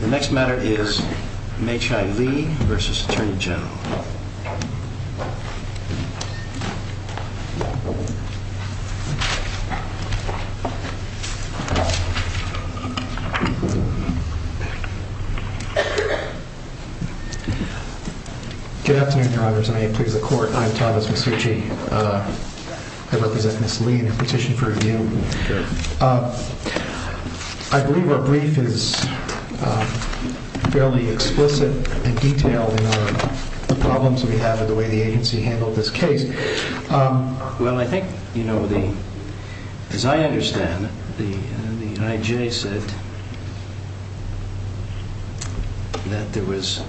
Good afternoon, Your Honours, and may it please the Court, I am Thomas Masucci. I represent by the U.S. Department of Justice, and it's been handled by the U.S. Department of Justice in a fairly explicit and detailed manner. The problems we have with the way the agency handled this case. Well, I think, as I understand it, the I.J. said that there was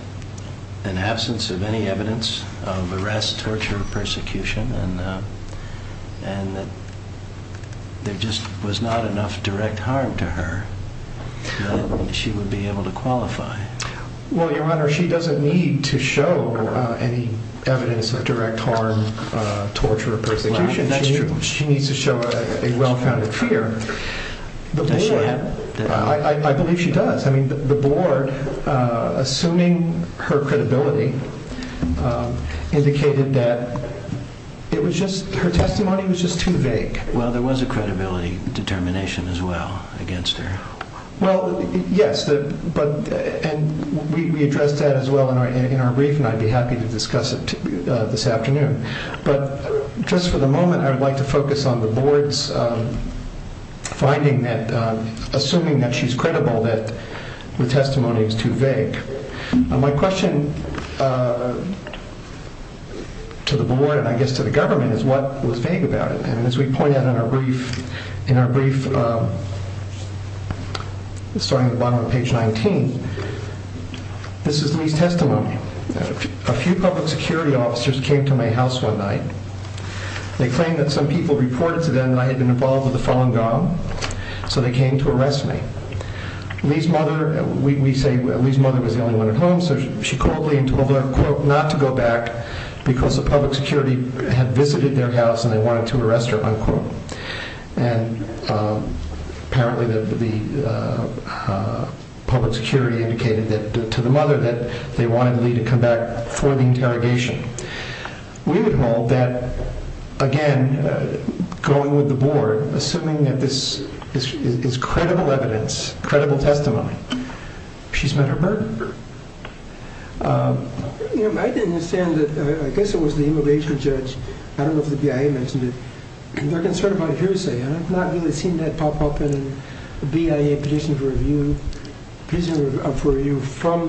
an absence of any evidence of arrest, torture, or persecution, and that there just was not enough direct harm to her that she would be able to qualify. Well, Your Honour, she doesn't need to show any evidence of direct harm, torture, or persecution. She needs to show a well-founded fear. I believe she does. I mean, the Board, assuming her credibility, indicated that it was just, her against her. Well, yes, but, and we addressed that as well in our brief, and I'd be happy to discuss it this afternoon. But just for the moment, I would like to focus on the Board's finding that, assuming that she's credible, that the testimony is too vague. My question to the Board, and I guess to the Government, is what was vague about it? And as we point out in our brief, starting at the bottom of page 19, this is Lee's testimony. A few public security officers came to my house one night. They claimed that some people reported to them that I had been involved with the Falun Gong, so they came to arrest me. Lee's mother, we say Lee's mother was the only one at home, so she called Lee and told her, quote, not to go back because the public security had visited their house and they wanted to interrogate her. And apparently the public security indicated that, to the mother, that they wanted Lee to come back for the interrogation. We would hold that, again, going with the Board, assuming that this is credible evidence, credible testimony, she's met her murder. I didn't understand that, I guess it was the immigration judge, I don't know if the BIA mentioned it. They're concerned about hearsay, and I've not really seen that pop up in the BIA petition for review from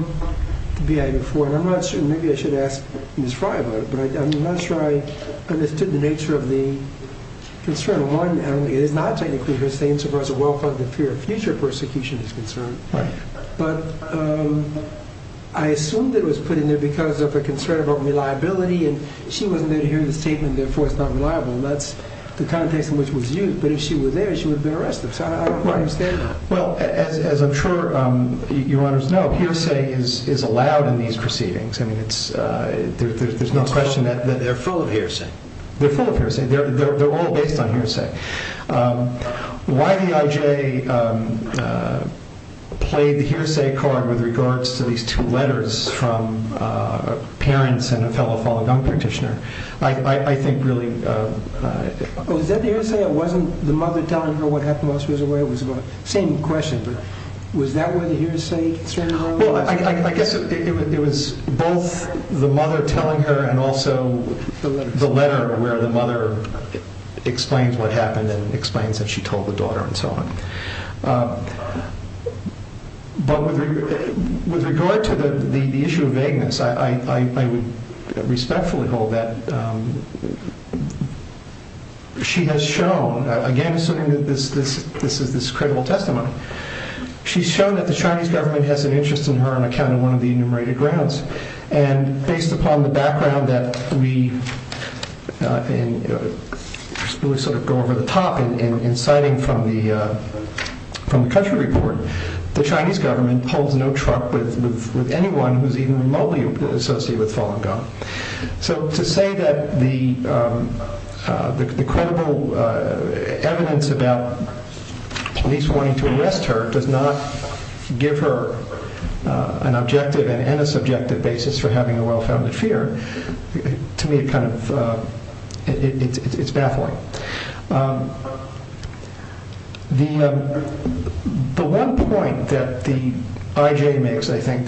the BIA before, and I'm not sure, maybe I should ask Ms. Fry about it, but I'm not sure I understood the nature of the concern. One, it is not technically hearsay insofar as the well-plugged fear of future persecution is concerned, but I assumed it was put in there because of a concern about reliability, and she wasn't there to hear the statement, therefore it's not reliable, and that's the context in which it was used. But if she were there, she would have been arrested, so I don't quite understand that. Well, as I'm sure your honors know, hearsay is allowed in these proceedings. I mean, there's no question that... They're full of hearsay. They're full of hearsay. They're all based on hearsay. Why the IJ played the hearsay card with regards to these two letters from parents and a fellow fallen gun practitioner, I think really... Was that the hearsay? It wasn't the mother telling her what happened while she was away? It was about... Same question, but was that where the hearsay concern was? Well, I guess it was both the mother telling her and also the letter where the mother explains what happened and explains that she told the daughter and so on. But with regard to the testimony that she has shown, again, assuming that this is this credible testimony, she's shown that the Chinese government has an interest in her on account of one of the enumerated grounds. And based upon the background that we go over the top in citing from the country report, the Chinese government pulls no truck with anyone who's even remotely associated with fallen gun. So to say that the credible evidence about police wanting to arrest her does not give her an objective and a subjective basis for having a well-founded fear, to me it's baffling. The one point that the IJ makes, I think,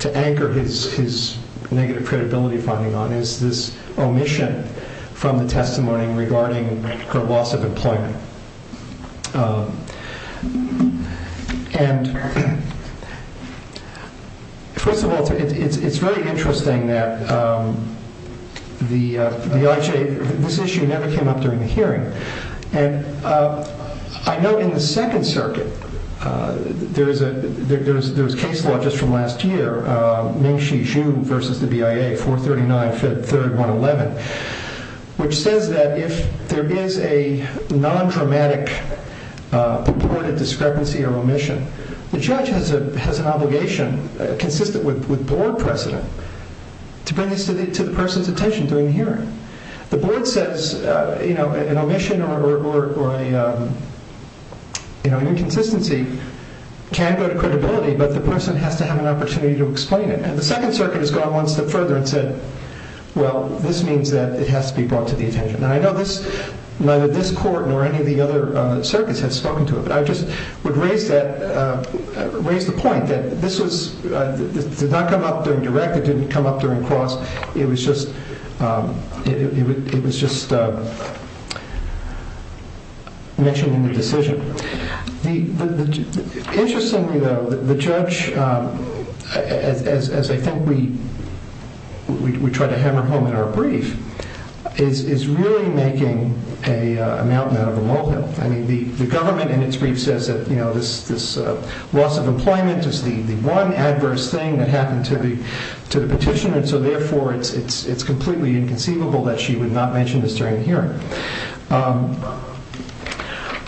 to anchor his negative credibility finding on is this omission from the testimony regarding her loss of employment. First of all, it's very interesting that the IJ... This issue never came up during the hearing. And I know in the Second Circuit, there was case law just from last year, Ming The judge has an obligation, consistent with board precedent, to bring this to the person's attention during the hearing. The board says an omission or an inconsistency can go to credibility, but the person has to have an opportunity to explain it. And the Second Circuit has gone one step further and said, well, this means that it has to be brought to the attention. And I know neither this court nor any of the other circuits have spoken to it, but I just would raise the point that this did not come up during direct, it didn't come up during cross, it was just mentioned in the decision. Interestingly, though, the judge, as I think we try to hammer home in our brief, is really making a mountain out of a molehill. I mean, the government in its brief says that this loss of employment is the one adverse thing that happened to the petitioner, and so therefore it's completely inconceivable that she would not mention this during the hearing.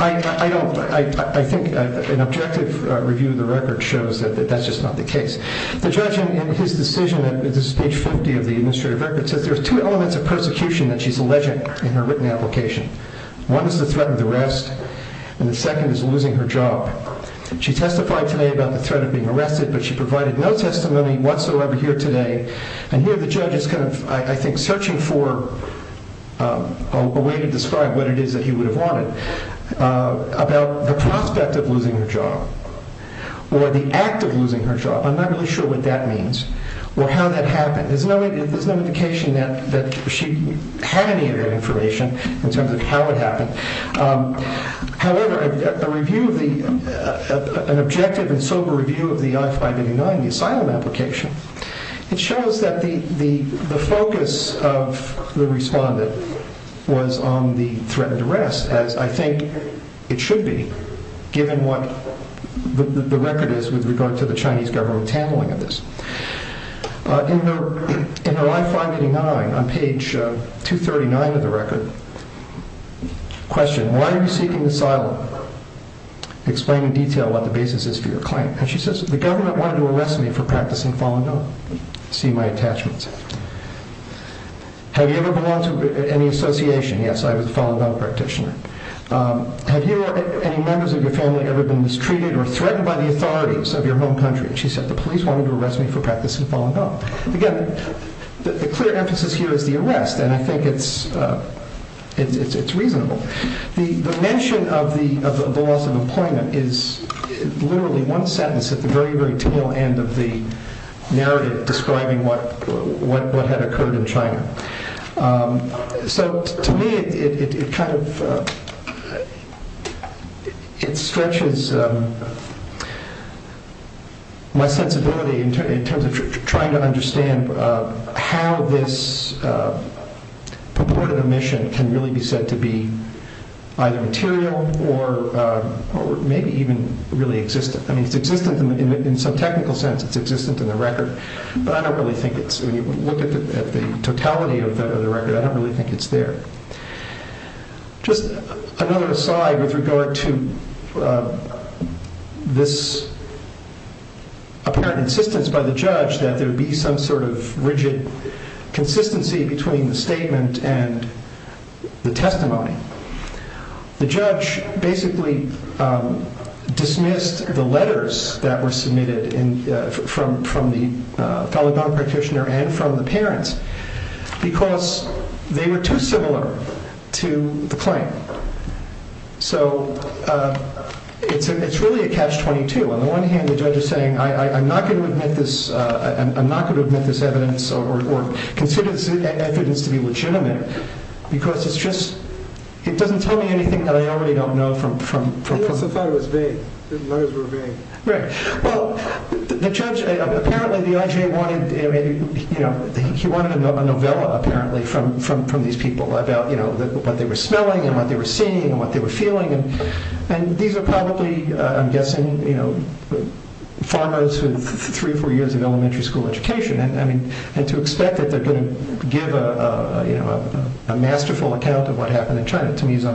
I think an objective review of the record shows that that's just not the case. The judge in his decision, this is page 50 of the administrative record, says there's two elements of persecution that she's alleging in her written application. One is the threat of the rest, and the second is losing her job. She testified today about the threat of being arrested, but she provided no testimony whatsoever here today. And here the judge is kind of, I think, searching for a way to describe what it is that he would have wanted about the prospect of losing her job, or the act of losing her job. I'm not really sure what that means, or how that happened. There's no indication that she had any of that information in terms of how it happened. However, an objective and sober review of the I-589, the asylum application, it shows that the focus of the respondent was on the threat of the rest, as I think it should be, given what the record is with regard to the Chinese government handling of this. In her I-589, on page 239 of the record, question, why are you seeking asylum? Explain in detail what the basis is for your claim. And she says, the government wanted to arrest me for practicing Falun Gong. See my attachments. Have you ever belonged to any association? Yes, I was a Falun Gong practitioner. Have any members of your family ever been mistreated or threatened by the authorities of your home country? And she said, the police wanted to arrest me for practicing Falun Gong. Again, the clear emphasis here is the arrest, and I think it's reasonable. The mention of the loss of employment is literally one sentence at the very, very tail end of the narrative describing what had occurred in China. So to me, it kind of, it stretches my sensibility in terms of trying to understand how this purported omission can really be said to be either material or maybe even really existent. I mean, it's existent in some technical sense. It's existent in the record, but I don't really think it's there. Just another aside with regard to this apparent insistence by the judge that there would be some sort of rigid consistency between the statement and the testimony. The judge basically dismissed the letters that were submitted from the Falun Gong practitioners to their parents because they were too similar to the claim. So it's really a catch-22. On the one hand, the judge is saying, I'm not going to admit this evidence or consider this evidence to be legitimate because it's just, it doesn't tell me anything that I already don't know from... Right. Well, the judge, apparently the IJ wanted, he wanted a novella apparently from these people about what they were smelling and what they were seeing and what they were feeling. And these are probably, I'm guessing, farmers with three or four years of elementary school education. And to expect that they're going to give a masterful account of what they're smelling and what they're feeling. And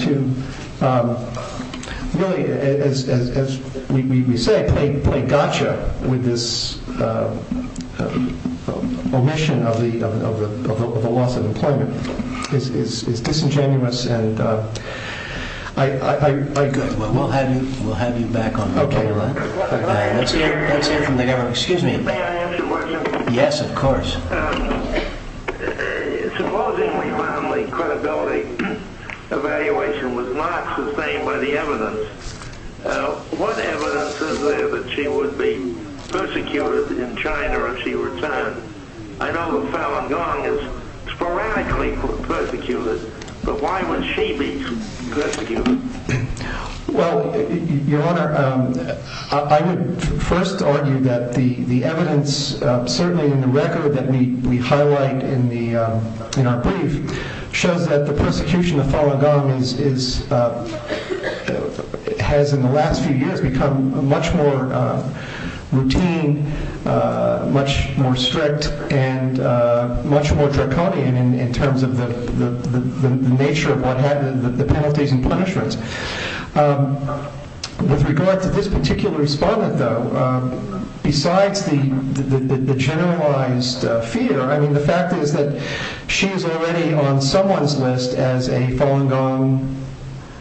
to really, as we say, play gotcha with this omission of the loss of employment is disingenuous and I... Good. Well, we'll have you back on the line. Okay. Let's hear from the governor. Excuse me. May I ask a question? Yes, of course. Supposedly family credibility evaluation was not sustained by the evidence. What evidence is there that she would be persecuted in China if she returned? I know that Falun Gong is sporadically persecuted, but why would she be persecuted? Well, Your Honor, I would first argue that the evidence, certainly in the record that we highlight in our brief, shows that the persecution of Falun Gong has, in the last few years, become much more routine, much more strict, and much more draconian in terms of the nature of the penalties and punishments. With regard to this particular respondent, though, besides the generalized fear, I mean, the fact is that she is already on someone's list as a Falun Gong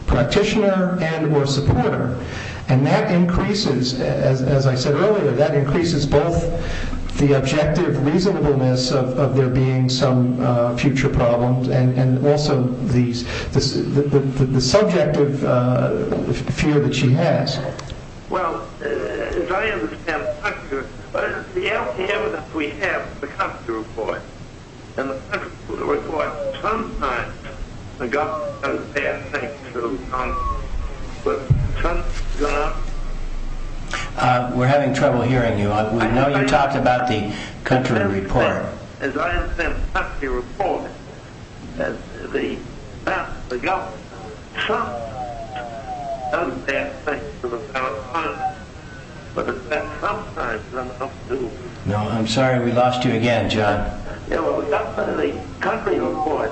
practitioner and or supporter. And that increases, as I said earlier, that and also the subjective fear that she has. Well, as I understand the country, the LPM that we have, the country report, and the country report, sometimes the government does bad things to the country, but sometimes... We're having trouble hearing you. I know you talked about the country report. As I understand the country report, the government sometimes does bad things to the Falun Gong, but that sometimes... No, I'm sorry, we lost you again, John. The country report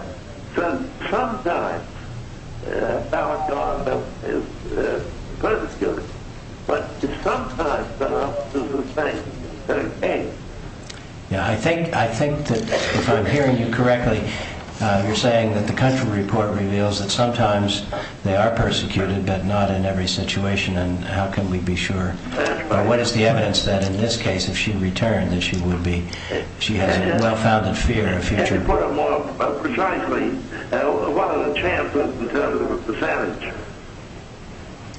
says sometimes Falun Gong is persecuted, but it's sometimes done Yeah, I think that if I'm hearing you correctly, you're saying that the country report reveals that sometimes they are persecuted, but not in every situation, and how can we be sure? But what is the evidence that in this case, if she returned, that she would be... she has a well-founded fear of future... If you put it more precisely, what are the chances in terms of a percentage...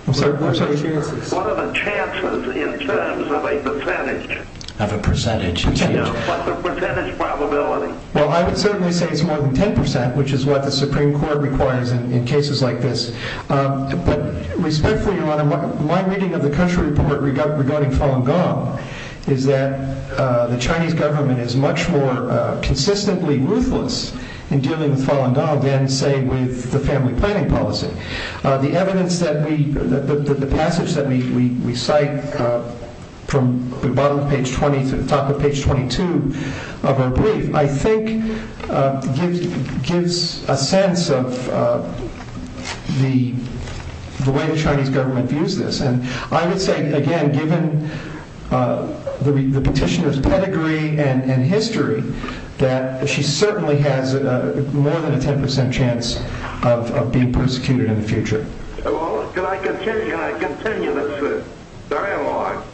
I'm sorry, what are the chances? What are the chances in terms of a percentage? Of a percentage, you mean? Yeah, what's the percentage probability? Well, I would certainly say it's more than 10%, which is what the Supreme Court requires in cases like this, but respectfully, Your Honor, my reading of the country report regarding Falun Gong is that the Chinese government is much more consistently ruthless in dealing with Falun Gong than, say, with the family planning policy. The evidence that we... the passage that we cite from the bottom of page 20 to the top of page 22 of our brief, I think, gives a sense of the way the Chinese government views this, and I would say, again, given the petitioner's pedigree and history, that she certainly has more than a 10% chance of being persecuted in the future. Well, can I continue this dialogue?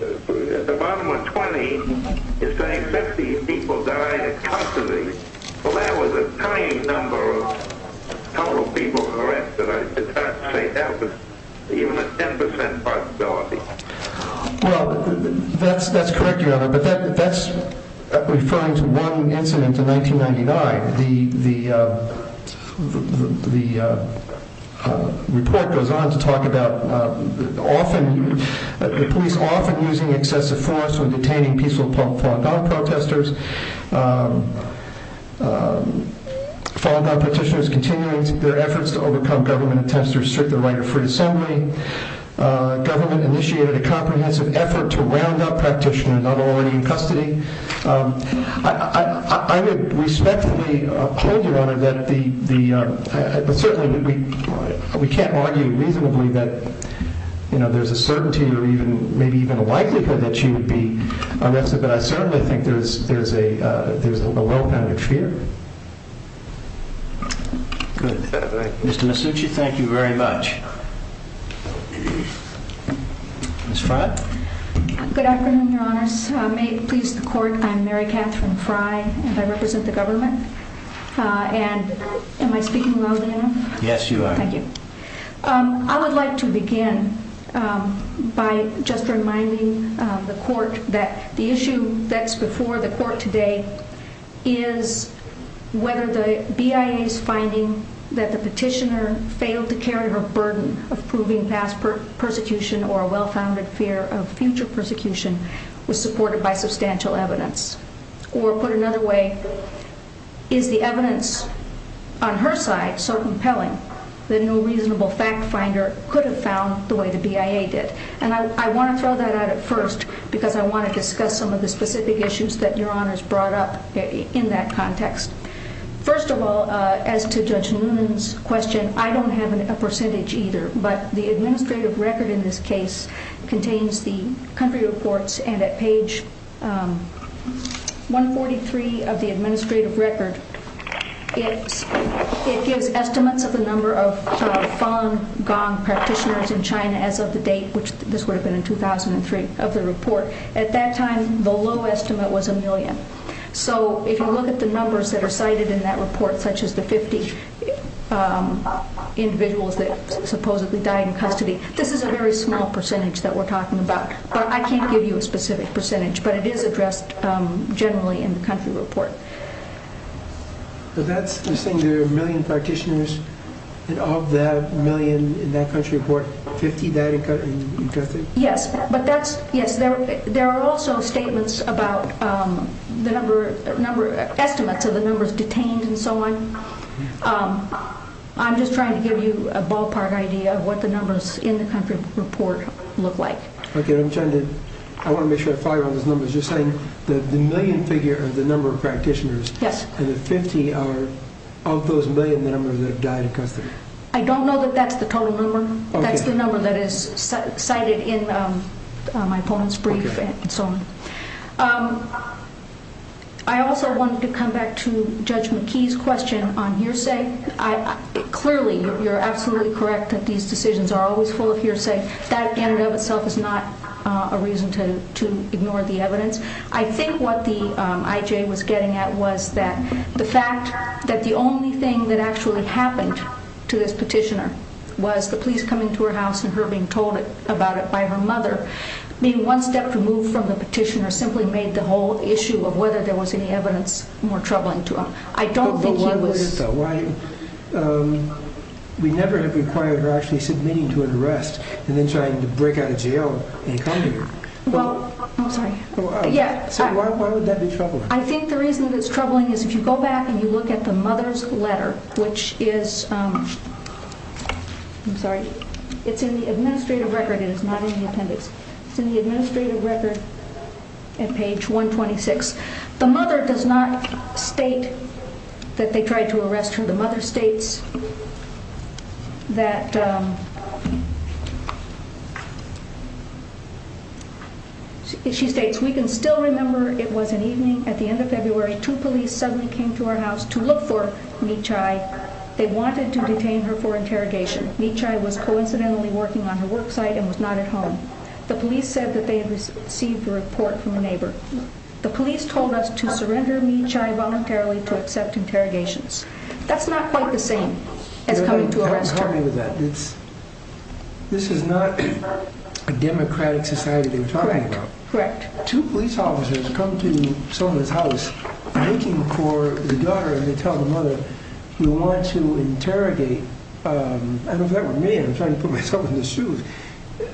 The bottom of 20 is saying 50 people died at custody. Well, that was a tiny number of total people arrested. I'd say that was even a 10% possibility. Well, that's correct, Your Honor, but that's referring to one incident in 1999. The report goes on to talk about the police often using excessive force when detaining peaceful Falun Gong protesters, Falun Gong petitioners continuing their efforts to overcome government attempts to restrict the right of free assembly. Government initiated a comprehensive effort to round up practitioners not already in custody. I would respectfully hold, Your Honor, that the... Certainly, we can't argue reasonably that there's a certainty or maybe even a likelihood that she would be arrested, but I certainly think there's a low amount of fear. Good. Mr. Masucci, thank you very much. Ms. Frey? Good afternoon, Your Honors. May it please the Court, I'm Mary Catherine Frey, and I represent the government. And am I speaking loud enough? Yes, you are. Thank you. I would like to begin by just reminding the Court that the issue that's before the Court today is whether the BIA's finding that the petitioner failed to carry her burden of proving past persecution or a well-founded fear of future persecution was supported by substantial evidence. Or put another way, is the evidence on her side so compelling that no reasonable fact finder could have found the way the BIA did? And I want to throw that out at first because I want to discuss some of the specific issues that Your Honors brought up in that context. First of all, as to Judge Newman's question, I don't have a percentage either, but the administrative record in this case contains the country reports, and at page 143 of the administrative record, it gives estimates of the number of Fang Gong practitioners in China as of the date, which this would have been in 2003, of the report. At that time, the low estimate was a million. So if you look at the numbers that are cited in that report, such as the 50 individuals that supposedly died in custody, this is a very small percentage that we're talking about. But I can't give you a specific percentage, but it is addressed generally in the country report. But that's saying there are a million practitioners, and of that million in that country report, 50 died in custody? Yes, but there are also statements about estimates of the numbers detained and so on. I'm just trying to give you a ballpark idea of what the numbers in the country report look like. Okay, I want to make sure I follow you on those numbers. You're saying the million figure are the number of practitioners, and the 50 are of those million, the number that died in custody? I don't know that that's the total number. That's the number that is cited in my opponent's brief and so on. I also wanted to come back to Judge McKee's question on hearsay. Clearly, you're absolutely correct that these decisions are always full of hearsay. That in and of itself is not a reason to ignore the evidence. I think what the IJ was getting at was that the fact that the only thing that actually happened to this petitioner was the police coming to her house and her being told about it by her mother, being one step removed from the petitioner, simply made the whole issue of whether there was any evidence more troubling to him. I don't think he was— But why would it, though? We never have required her actually submitting to an arrest and then trying to break out of jail and come here. Well, I'm sorry. Why would that be troubling? I think the reason that it's troubling is if you go back and you look at the mother's letter, which is—I'm sorry. It's in the administrative record. It is not in the appendix. It's in the administrative record at page 126. The mother does not state that they tried to arrest her. The mother states that— She states, Which we can still remember it was an evening at the end of February. Two police suddenly came to our house to look for Mie Chai. They wanted to detain her for interrogation. Mie Chai was coincidentally working on her work site and was not at home. The police said that they had received a report from a neighbor. The police told us to surrender Mie Chai voluntarily to accept interrogations. That's not quite the same as coming to arrest her. This is not a democratic society they were talking about. Correct. Two police officers come to someone's house looking for the daughter, and they tell the mother, You want to interrogate—I don't know if that were me. I'm trying to put myself in their shoes.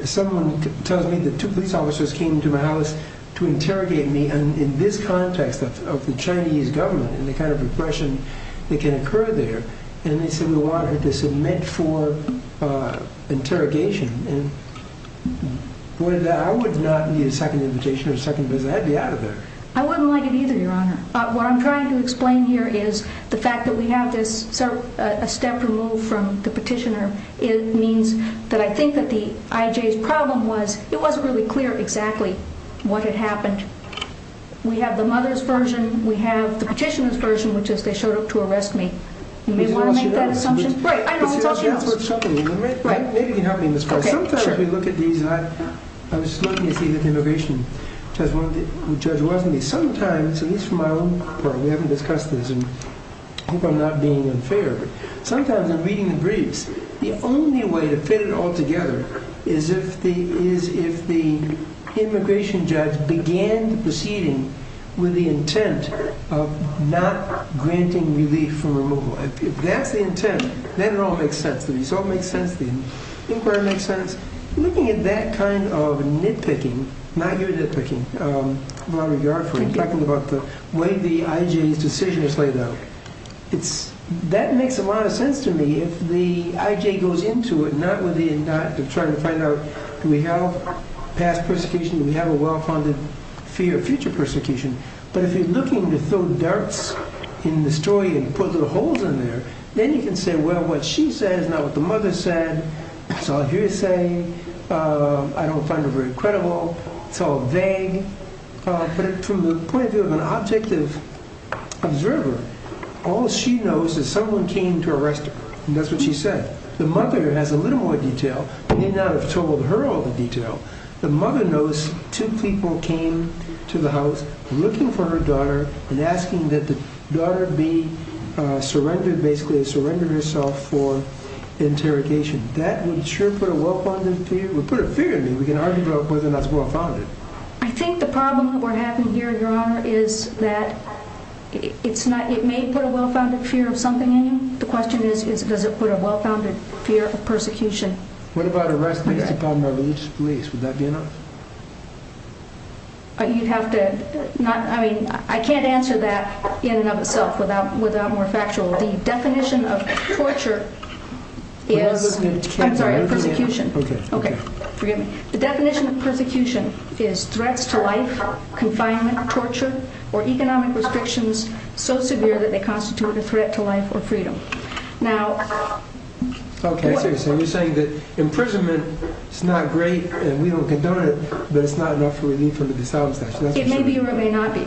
Someone tells me that two police officers came to my house to interrogate me, and in this context of the Chinese government and the kind of repression that can occur there, and they said, We want her to submit for interrogation. I would not need a second invitation or a second visit. I'd be out of there. I wouldn't like it either, Your Honor. What I'm trying to explain here is the fact that we have this step removed from the petitioner. It means that I think that the IJ's problem was it wasn't really clear exactly what had happened. We have the mother's version. We have the petitioner's version, which is they showed up to arrest me. You may want to make that assumption. Maybe you can help me in this part. Sometimes we look at these, and I was lucky to see that the immigration judge wasn't. Sometimes, at least for my own part, we haven't discussed this, and I hope I'm not being unfair, but sometimes in reading the briefs, the only way to fit it all together is if the immigration judge began the proceeding with the intent of not granting relief from removal. If that's the intent, then it all makes sense to me. This all makes sense. The inquiry makes sense. Looking at that kind of nitpicking, not your nitpicking, Robert Yarford talking about the way the IJ's decision was laid out, that makes a lot of sense to me if the IJ goes into it not with the intent of trying to find out, do we have past persecution? Do we have a well-founded fear of future persecution? But if you're looking to throw darts in the story and put little holes in there, then you can say, well, what she says is not what the mother said. It's all hearsay. I don't find it very credible. It's all vague. But from the point of view of an objective observer, all she knows is someone came to arrest her, and that's what she said. The mother has a little more detail. They may not have told her all the detail. The mother knows two people came to the house looking for her daughter and asking that the daughter be surrendered, basically surrendered herself for interrogation. That would sure put a well-founded fear. It would put a fear in me. We can argue about whether or not it's well-founded. I think the problem with what happened here, Your Honor, is that it may put a well-founded fear of something in you. The question is, does it put a well-founded fear of persecution? What about arrest based upon religious beliefs? Would that be enough? You'd have to not, I mean, I can't answer that in and of itself without more factual. The definition of torture is, I'm sorry, persecution. Okay, okay. Forgive me. The definition of persecution is threats to life, confinement, torture, or economic restrictions so severe that they constitute a threat to life or freedom. Okay, so you're saying that imprisonment is not great and we don't condone it, but it's not enough relief from the disability statute. It may be or it may not be.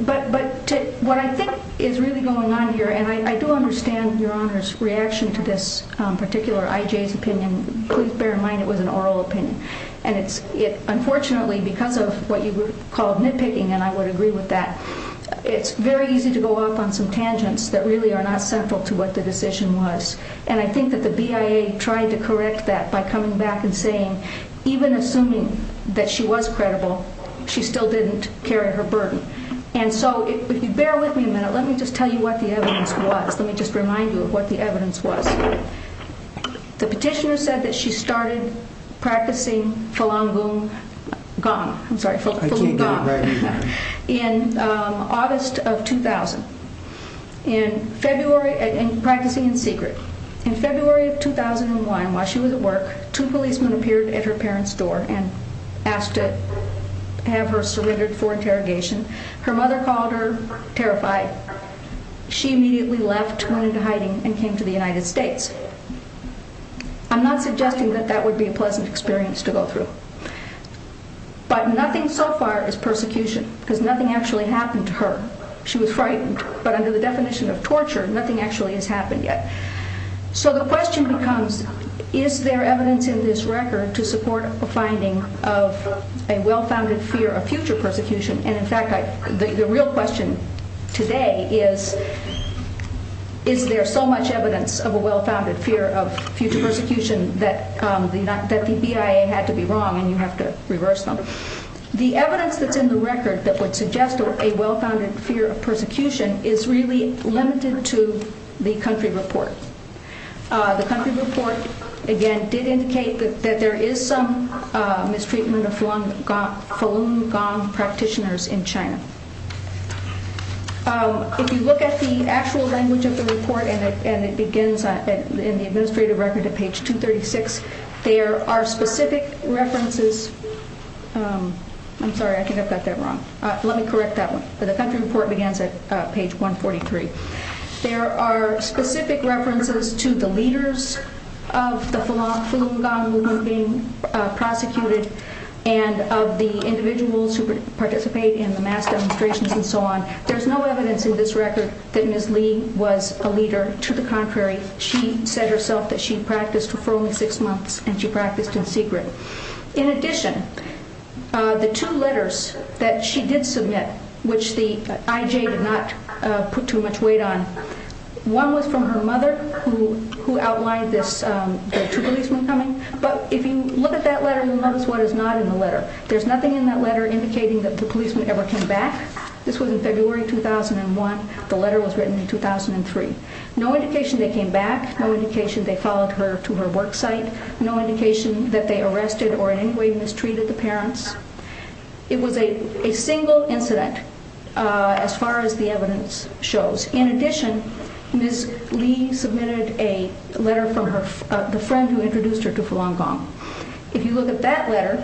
But what I think is really going on here, and I do understand Your Honor's reaction to this particular IJ's opinion. Please bear in mind it was an oral opinion. Unfortunately, because of what you called nitpicking, and I would agree with that, it's very easy to go off on some tangents that really are not central to what the decision was. And I think that the BIA tried to correct that by coming back and saying, even assuming that she was credible, she still didn't carry her burden. And so if you bear with me a minute, let me just tell you what the evidence was. Let me just remind you of what the evidence was. The petitioner said that she started practicing Falun Gong. I'm sorry, Falun Gong. Right. In August of 2000, practicing in secret. In February of 2001, while she was at work, two policemen appeared at her parents' door and asked to have her surrendered for interrogation. Her mother called her terrified. She immediately left, went into hiding, and came to the United States. I'm not suggesting that that would be a pleasant experience to go through. But nothing so far is persecution, because nothing actually happened to her. She was frightened, but under the definition of torture, nothing actually has happened yet. So the question becomes, is there evidence in this record to support a finding of a well-founded fear of future persecution? And, in fact, the real question today is, is there so much evidence of a well-founded fear of future persecution that the BIA had to be wrong and you have to reverse them? The evidence that's in the record that would suggest a well-founded fear of persecution is really limited to the country report. The country report, again, did indicate that there is some mistreatment of Falun Gong practitioners in China. If you look at the actual language of the report, and it begins in the administrative record at page 236, there are specific references—I'm sorry, I think I've got that wrong. Let me correct that one. The country report begins at page 143. There are specific references to the leaders of the Falun Gong movement being prosecuted and of the individuals who participate in the mass demonstrations and so on. There's no evidence in this record that Ms. Li was a leader. To the contrary, she said herself that she practiced for only six months, and she practiced in secret. In addition, the two letters that she did submit, which the IJ did not put too much weight on, one was from her mother, who outlined the two policemen coming. But if you look at that letter, you'll notice what is not in the letter. There's nothing in that letter indicating that the policemen ever came back. This was in February 2001. The letter was written in 2003. No indication they came back. No indication they followed her to her work site. No indication that they arrested or in any way mistreated the parents. It was a single incident as far as the evidence shows. In addition, Ms. Li submitted a letter from the friend who introduced her to Falun Gong. If you look at that letter,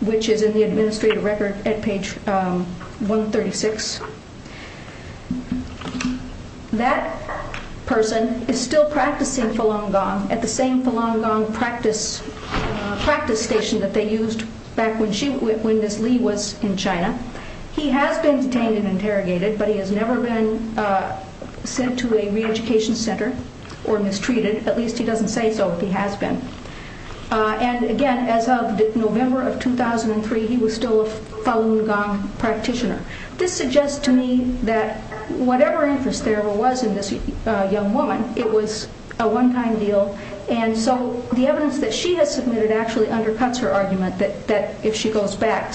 which is in the administrative record at page 136, that person is still practicing Falun Gong at the same Falun Gong practice station that they used back when Ms. Li was in China. He has been detained and interrogated, but he has never been sent to a re-education center or mistreated. At least he doesn't say so, but he has been. Again, as of November of 2003, he was still a Falun Gong practitioner. This suggests to me that whatever interest there was in this young woman, it was a one-time deal. The evidence that she has submitted actually undercuts her argument that if she goes back,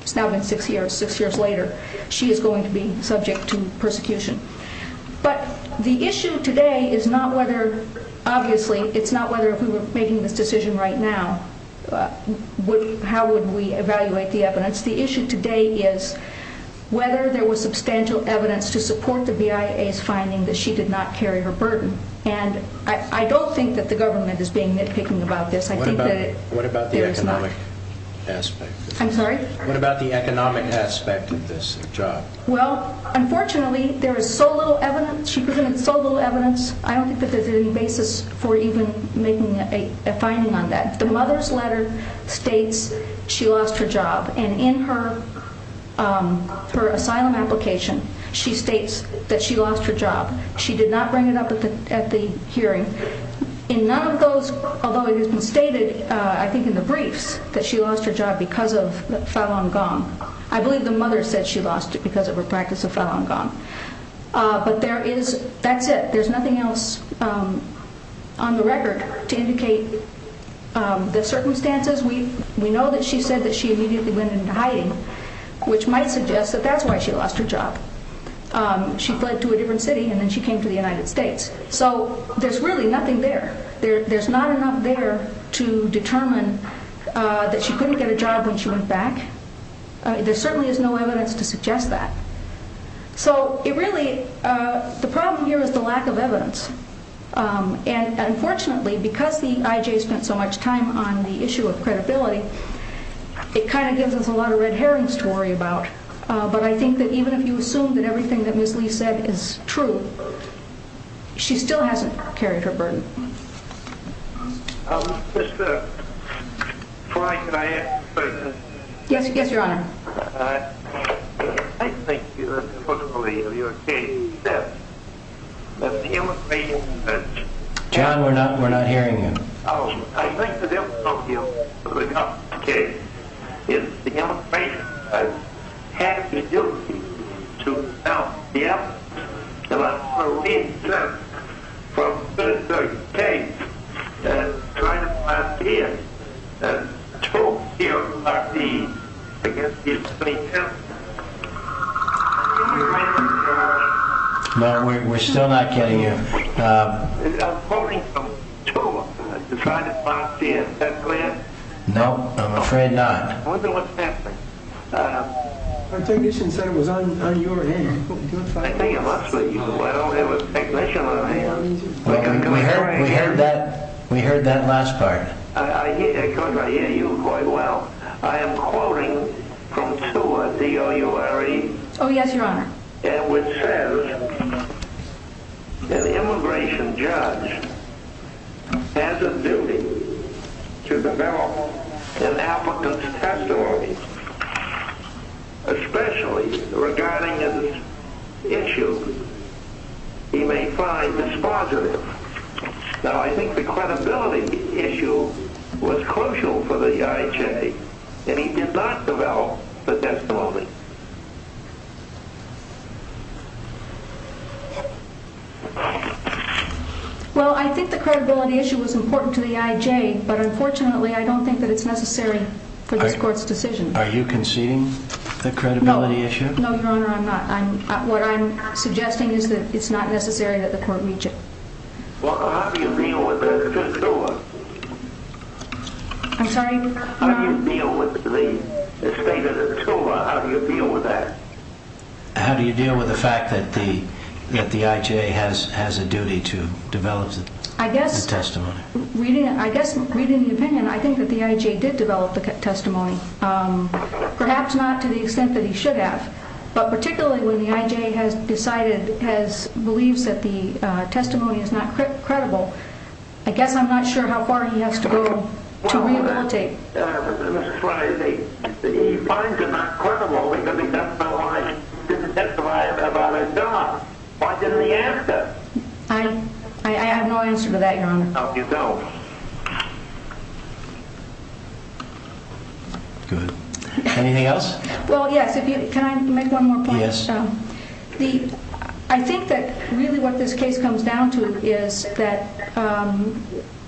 it's now been six years, six years later, she is going to be subject to persecution. But the issue today is not whether, obviously, it's not whether if we were making this decision right now, how would we evaluate the evidence. The issue today is whether there was substantial evidence to support the BIA's finding that she did not carry her burden. I don't think that the government is being nitpicking about this. What about the economic aspect? I'm sorry? What about the economic aspect of this job? Well, unfortunately, there is so little evidence, she presented so little evidence, I don't think there is any basis for even making a finding on that. The mother's letter states she lost her job. In her asylum application, she states that she lost her job. She did not bring it up at the hearing. In none of those, although it has been stated, I think in the briefs, that she lost her job because of Falun Gong. I believe the mother said she lost it because of her practice of Falun Gong. But there is, that's it. There's nothing else on the record to indicate the circumstances. We know that she said that she immediately went into hiding, which might suggest that that's why she lost her job. She fled to a different city and then she came to the United States. So there's really nothing there. There's not enough there to determine that she couldn't get a job when she went back. There certainly is no evidence to suggest that. So it really, the problem here is the lack of evidence. And unfortunately, because the IJ spent so much time on the issue of credibility, it kind of gives us a lot of red herrings to worry about. But I think that even if you assume that everything that Ms. Lee said is true, she still hasn't carried her burden. Yes, Your Honor. John, we're not hearing you. No, we're still not getting you. No, I'm afraid not. Our technician said it was on your hand. We heard that last part. Oh, yes, Your Honor. I think the credibility issue was crucial for the IJ, and he did not develop the testimony. Well, I think the credibility issue was important to the IJ, but unfortunately, I don't think that it's necessary for this Court's decision. Are you conceding the credibility issue? No, Your Honor, I'm not. What I'm suggesting is that it's not necessary that the Court reach it. I'm sorry? How do you deal with the fact that the IJ has a duty to develop the testimony? I guess, reading the opinion, I think that the IJ did develop the testimony. Perhaps not to the extent that he should have. But particularly when the IJ has decided, believes that the testimony is not credible, I guess I'm not sure how far he has to go to re-implicate. No. Good. Anything else? Well, yes. Can I make one more point? Yes. I think that really what this case comes down to is that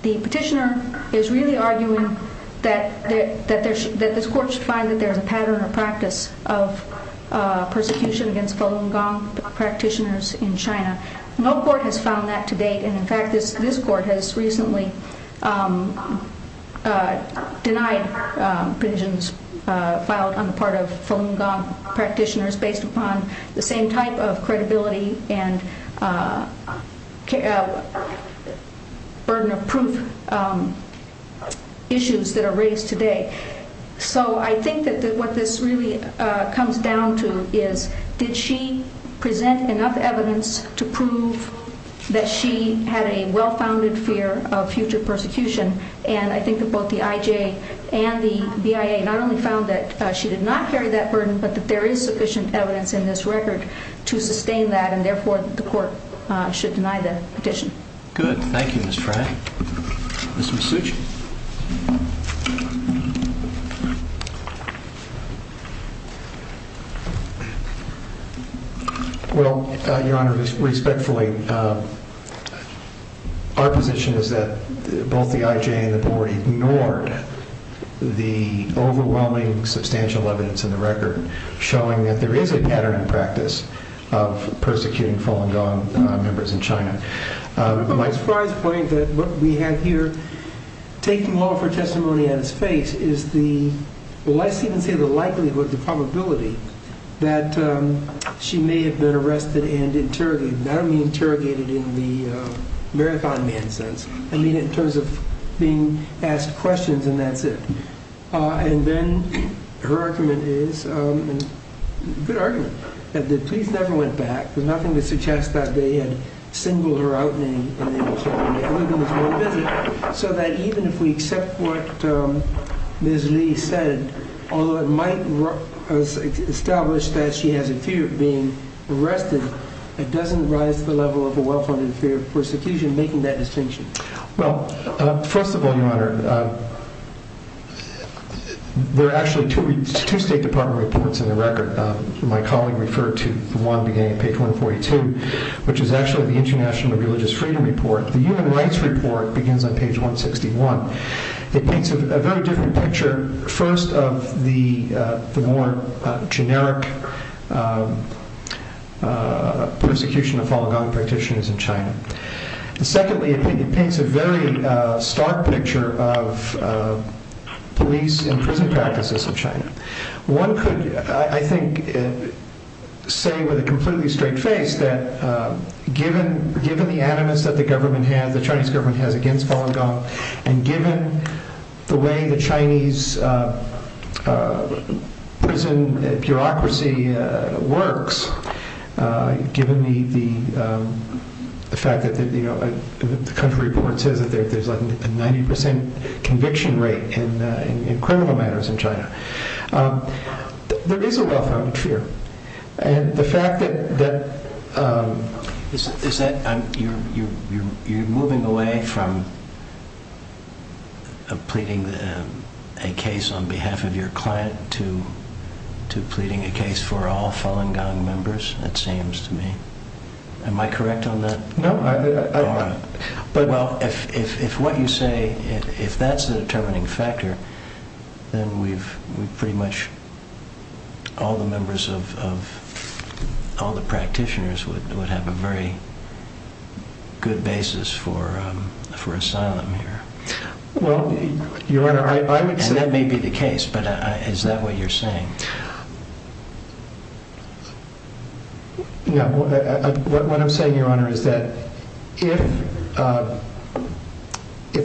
the petitioner is really arguing that this Court should find that there's a pattern or practice of persecution against Falun Gong practitioners in China. No Court has found that to date. And in fact, this Court has recently denied petitions filed on the part of Falun Gong practitioners based upon the same type of credibility and burden of proof issues that are raised today. So I think that what this really comes down to is, did she present enough evidence to prove that she had a well-founded fear of future persecution? And I think that both the IJ and the BIA not only found that she did not carry that burden, but that there is sufficient evidence in this record to sustain that. And therefore, the Court should deny the petition. Good. Thank you, Ms. Frey. Ms. Masucci? Well, Your Honor, respectfully, our position is that both the IJ and the Board ignored the overwhelming substantial evidence in the record showing that there is a pattern or practice of persecuting Falun Gong members in China. I remember Ms. Frey's point that what we have here, taking off her testimony at his face, is the less even say the likelihood, the probability that she may have been arrested and interrogated. And I don't mean interrogated in the marathon man sense. I mean it in terms of being asked questions, and that's it. And then her argument is, good argument, that the police never went back. There's nothing to suggest that they had singled her out in any way, so that even if we accept what Ms. Li said, although it might establish that she has a fear of being arrested, it doesn't rise to the level of a well-founded fear of persecution, making that distinction. Well, first of all, Your Honor, there are actually two State Department reports in the record. My colleague referred to the one beginning at page 142, which is actually the International Religious Freedom Report. The Human Rights Report begins on page 161. It paints a very different picture, first, of the more generic persecution of Falun Gong practitioners in China. Secondly, it paints a very stark picture of police and prison practices in China. One could, I think, say with a completely straight face that given the animus that the Chinese government has against Falun Gong, and given the way the Chinese prison bureaucracy works, given the fact that the country report says that there's a 90% conviction rate in criminal matters in China, there is a well-founded fear. You're moving away from pleading a case on behalf of your client to pleading a case for all Falun Gong members, it seems to me. Am I correct on that? Well, if what you say, if that's the determining factor, then we've pretty much, all the members of, all the practitioners would have a very good basis for asylum here. Well, Your Honor, I would say... And that may be the case, but is that what you're saying? No. What I'm saying, Your Honor, is that if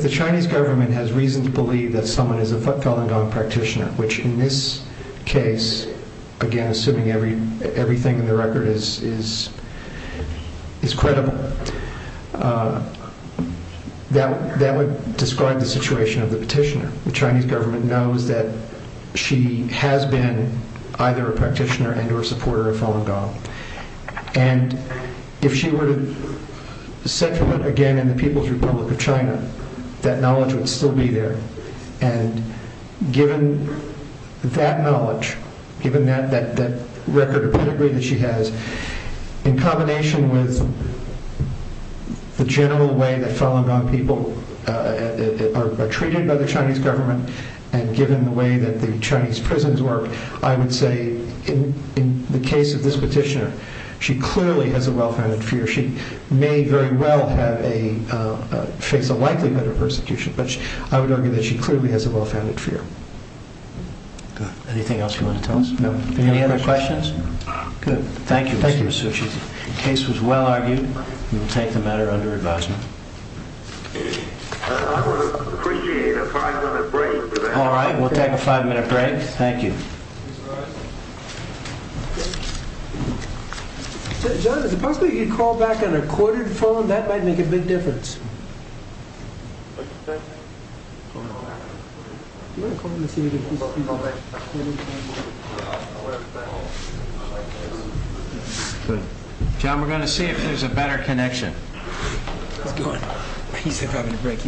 the Chinese government has reason to believe that someone is a Falun Gong practitioner, which in this case, again, assuming everything in the record is credible, that would describe the situation of the petitioner. The Chinese government knows that she has been either a practitioner and or supporter of Falun Gong. And if she were to set foot again in the People's Republic of China, that knowledge would still be there. And given that knowledge, given that record of pedigree that she has, in combination with the general way that Falun Gong people are treated by the Chinese government, and given the way that the Chinese prisons work, I would say, in the case of this petitioner, she clearly has a well-founded fear. She may very well face a likelihood of persecution, but I would argue that she clearly has a well-founded fear. Anything else you want to tell us? No. Any other questions? Good. Thank you, Mr. Masucci. The case was well-argued. We will take the matter under advisement. I would appreciate a five-minute break. All right. We'll take a five-minute break. Thank you. Mr. Rosen? John, is it possible you could call back on a corded phone? That might make a big difference. John, we're going to see if there's a better connection. He's going. He's having a break.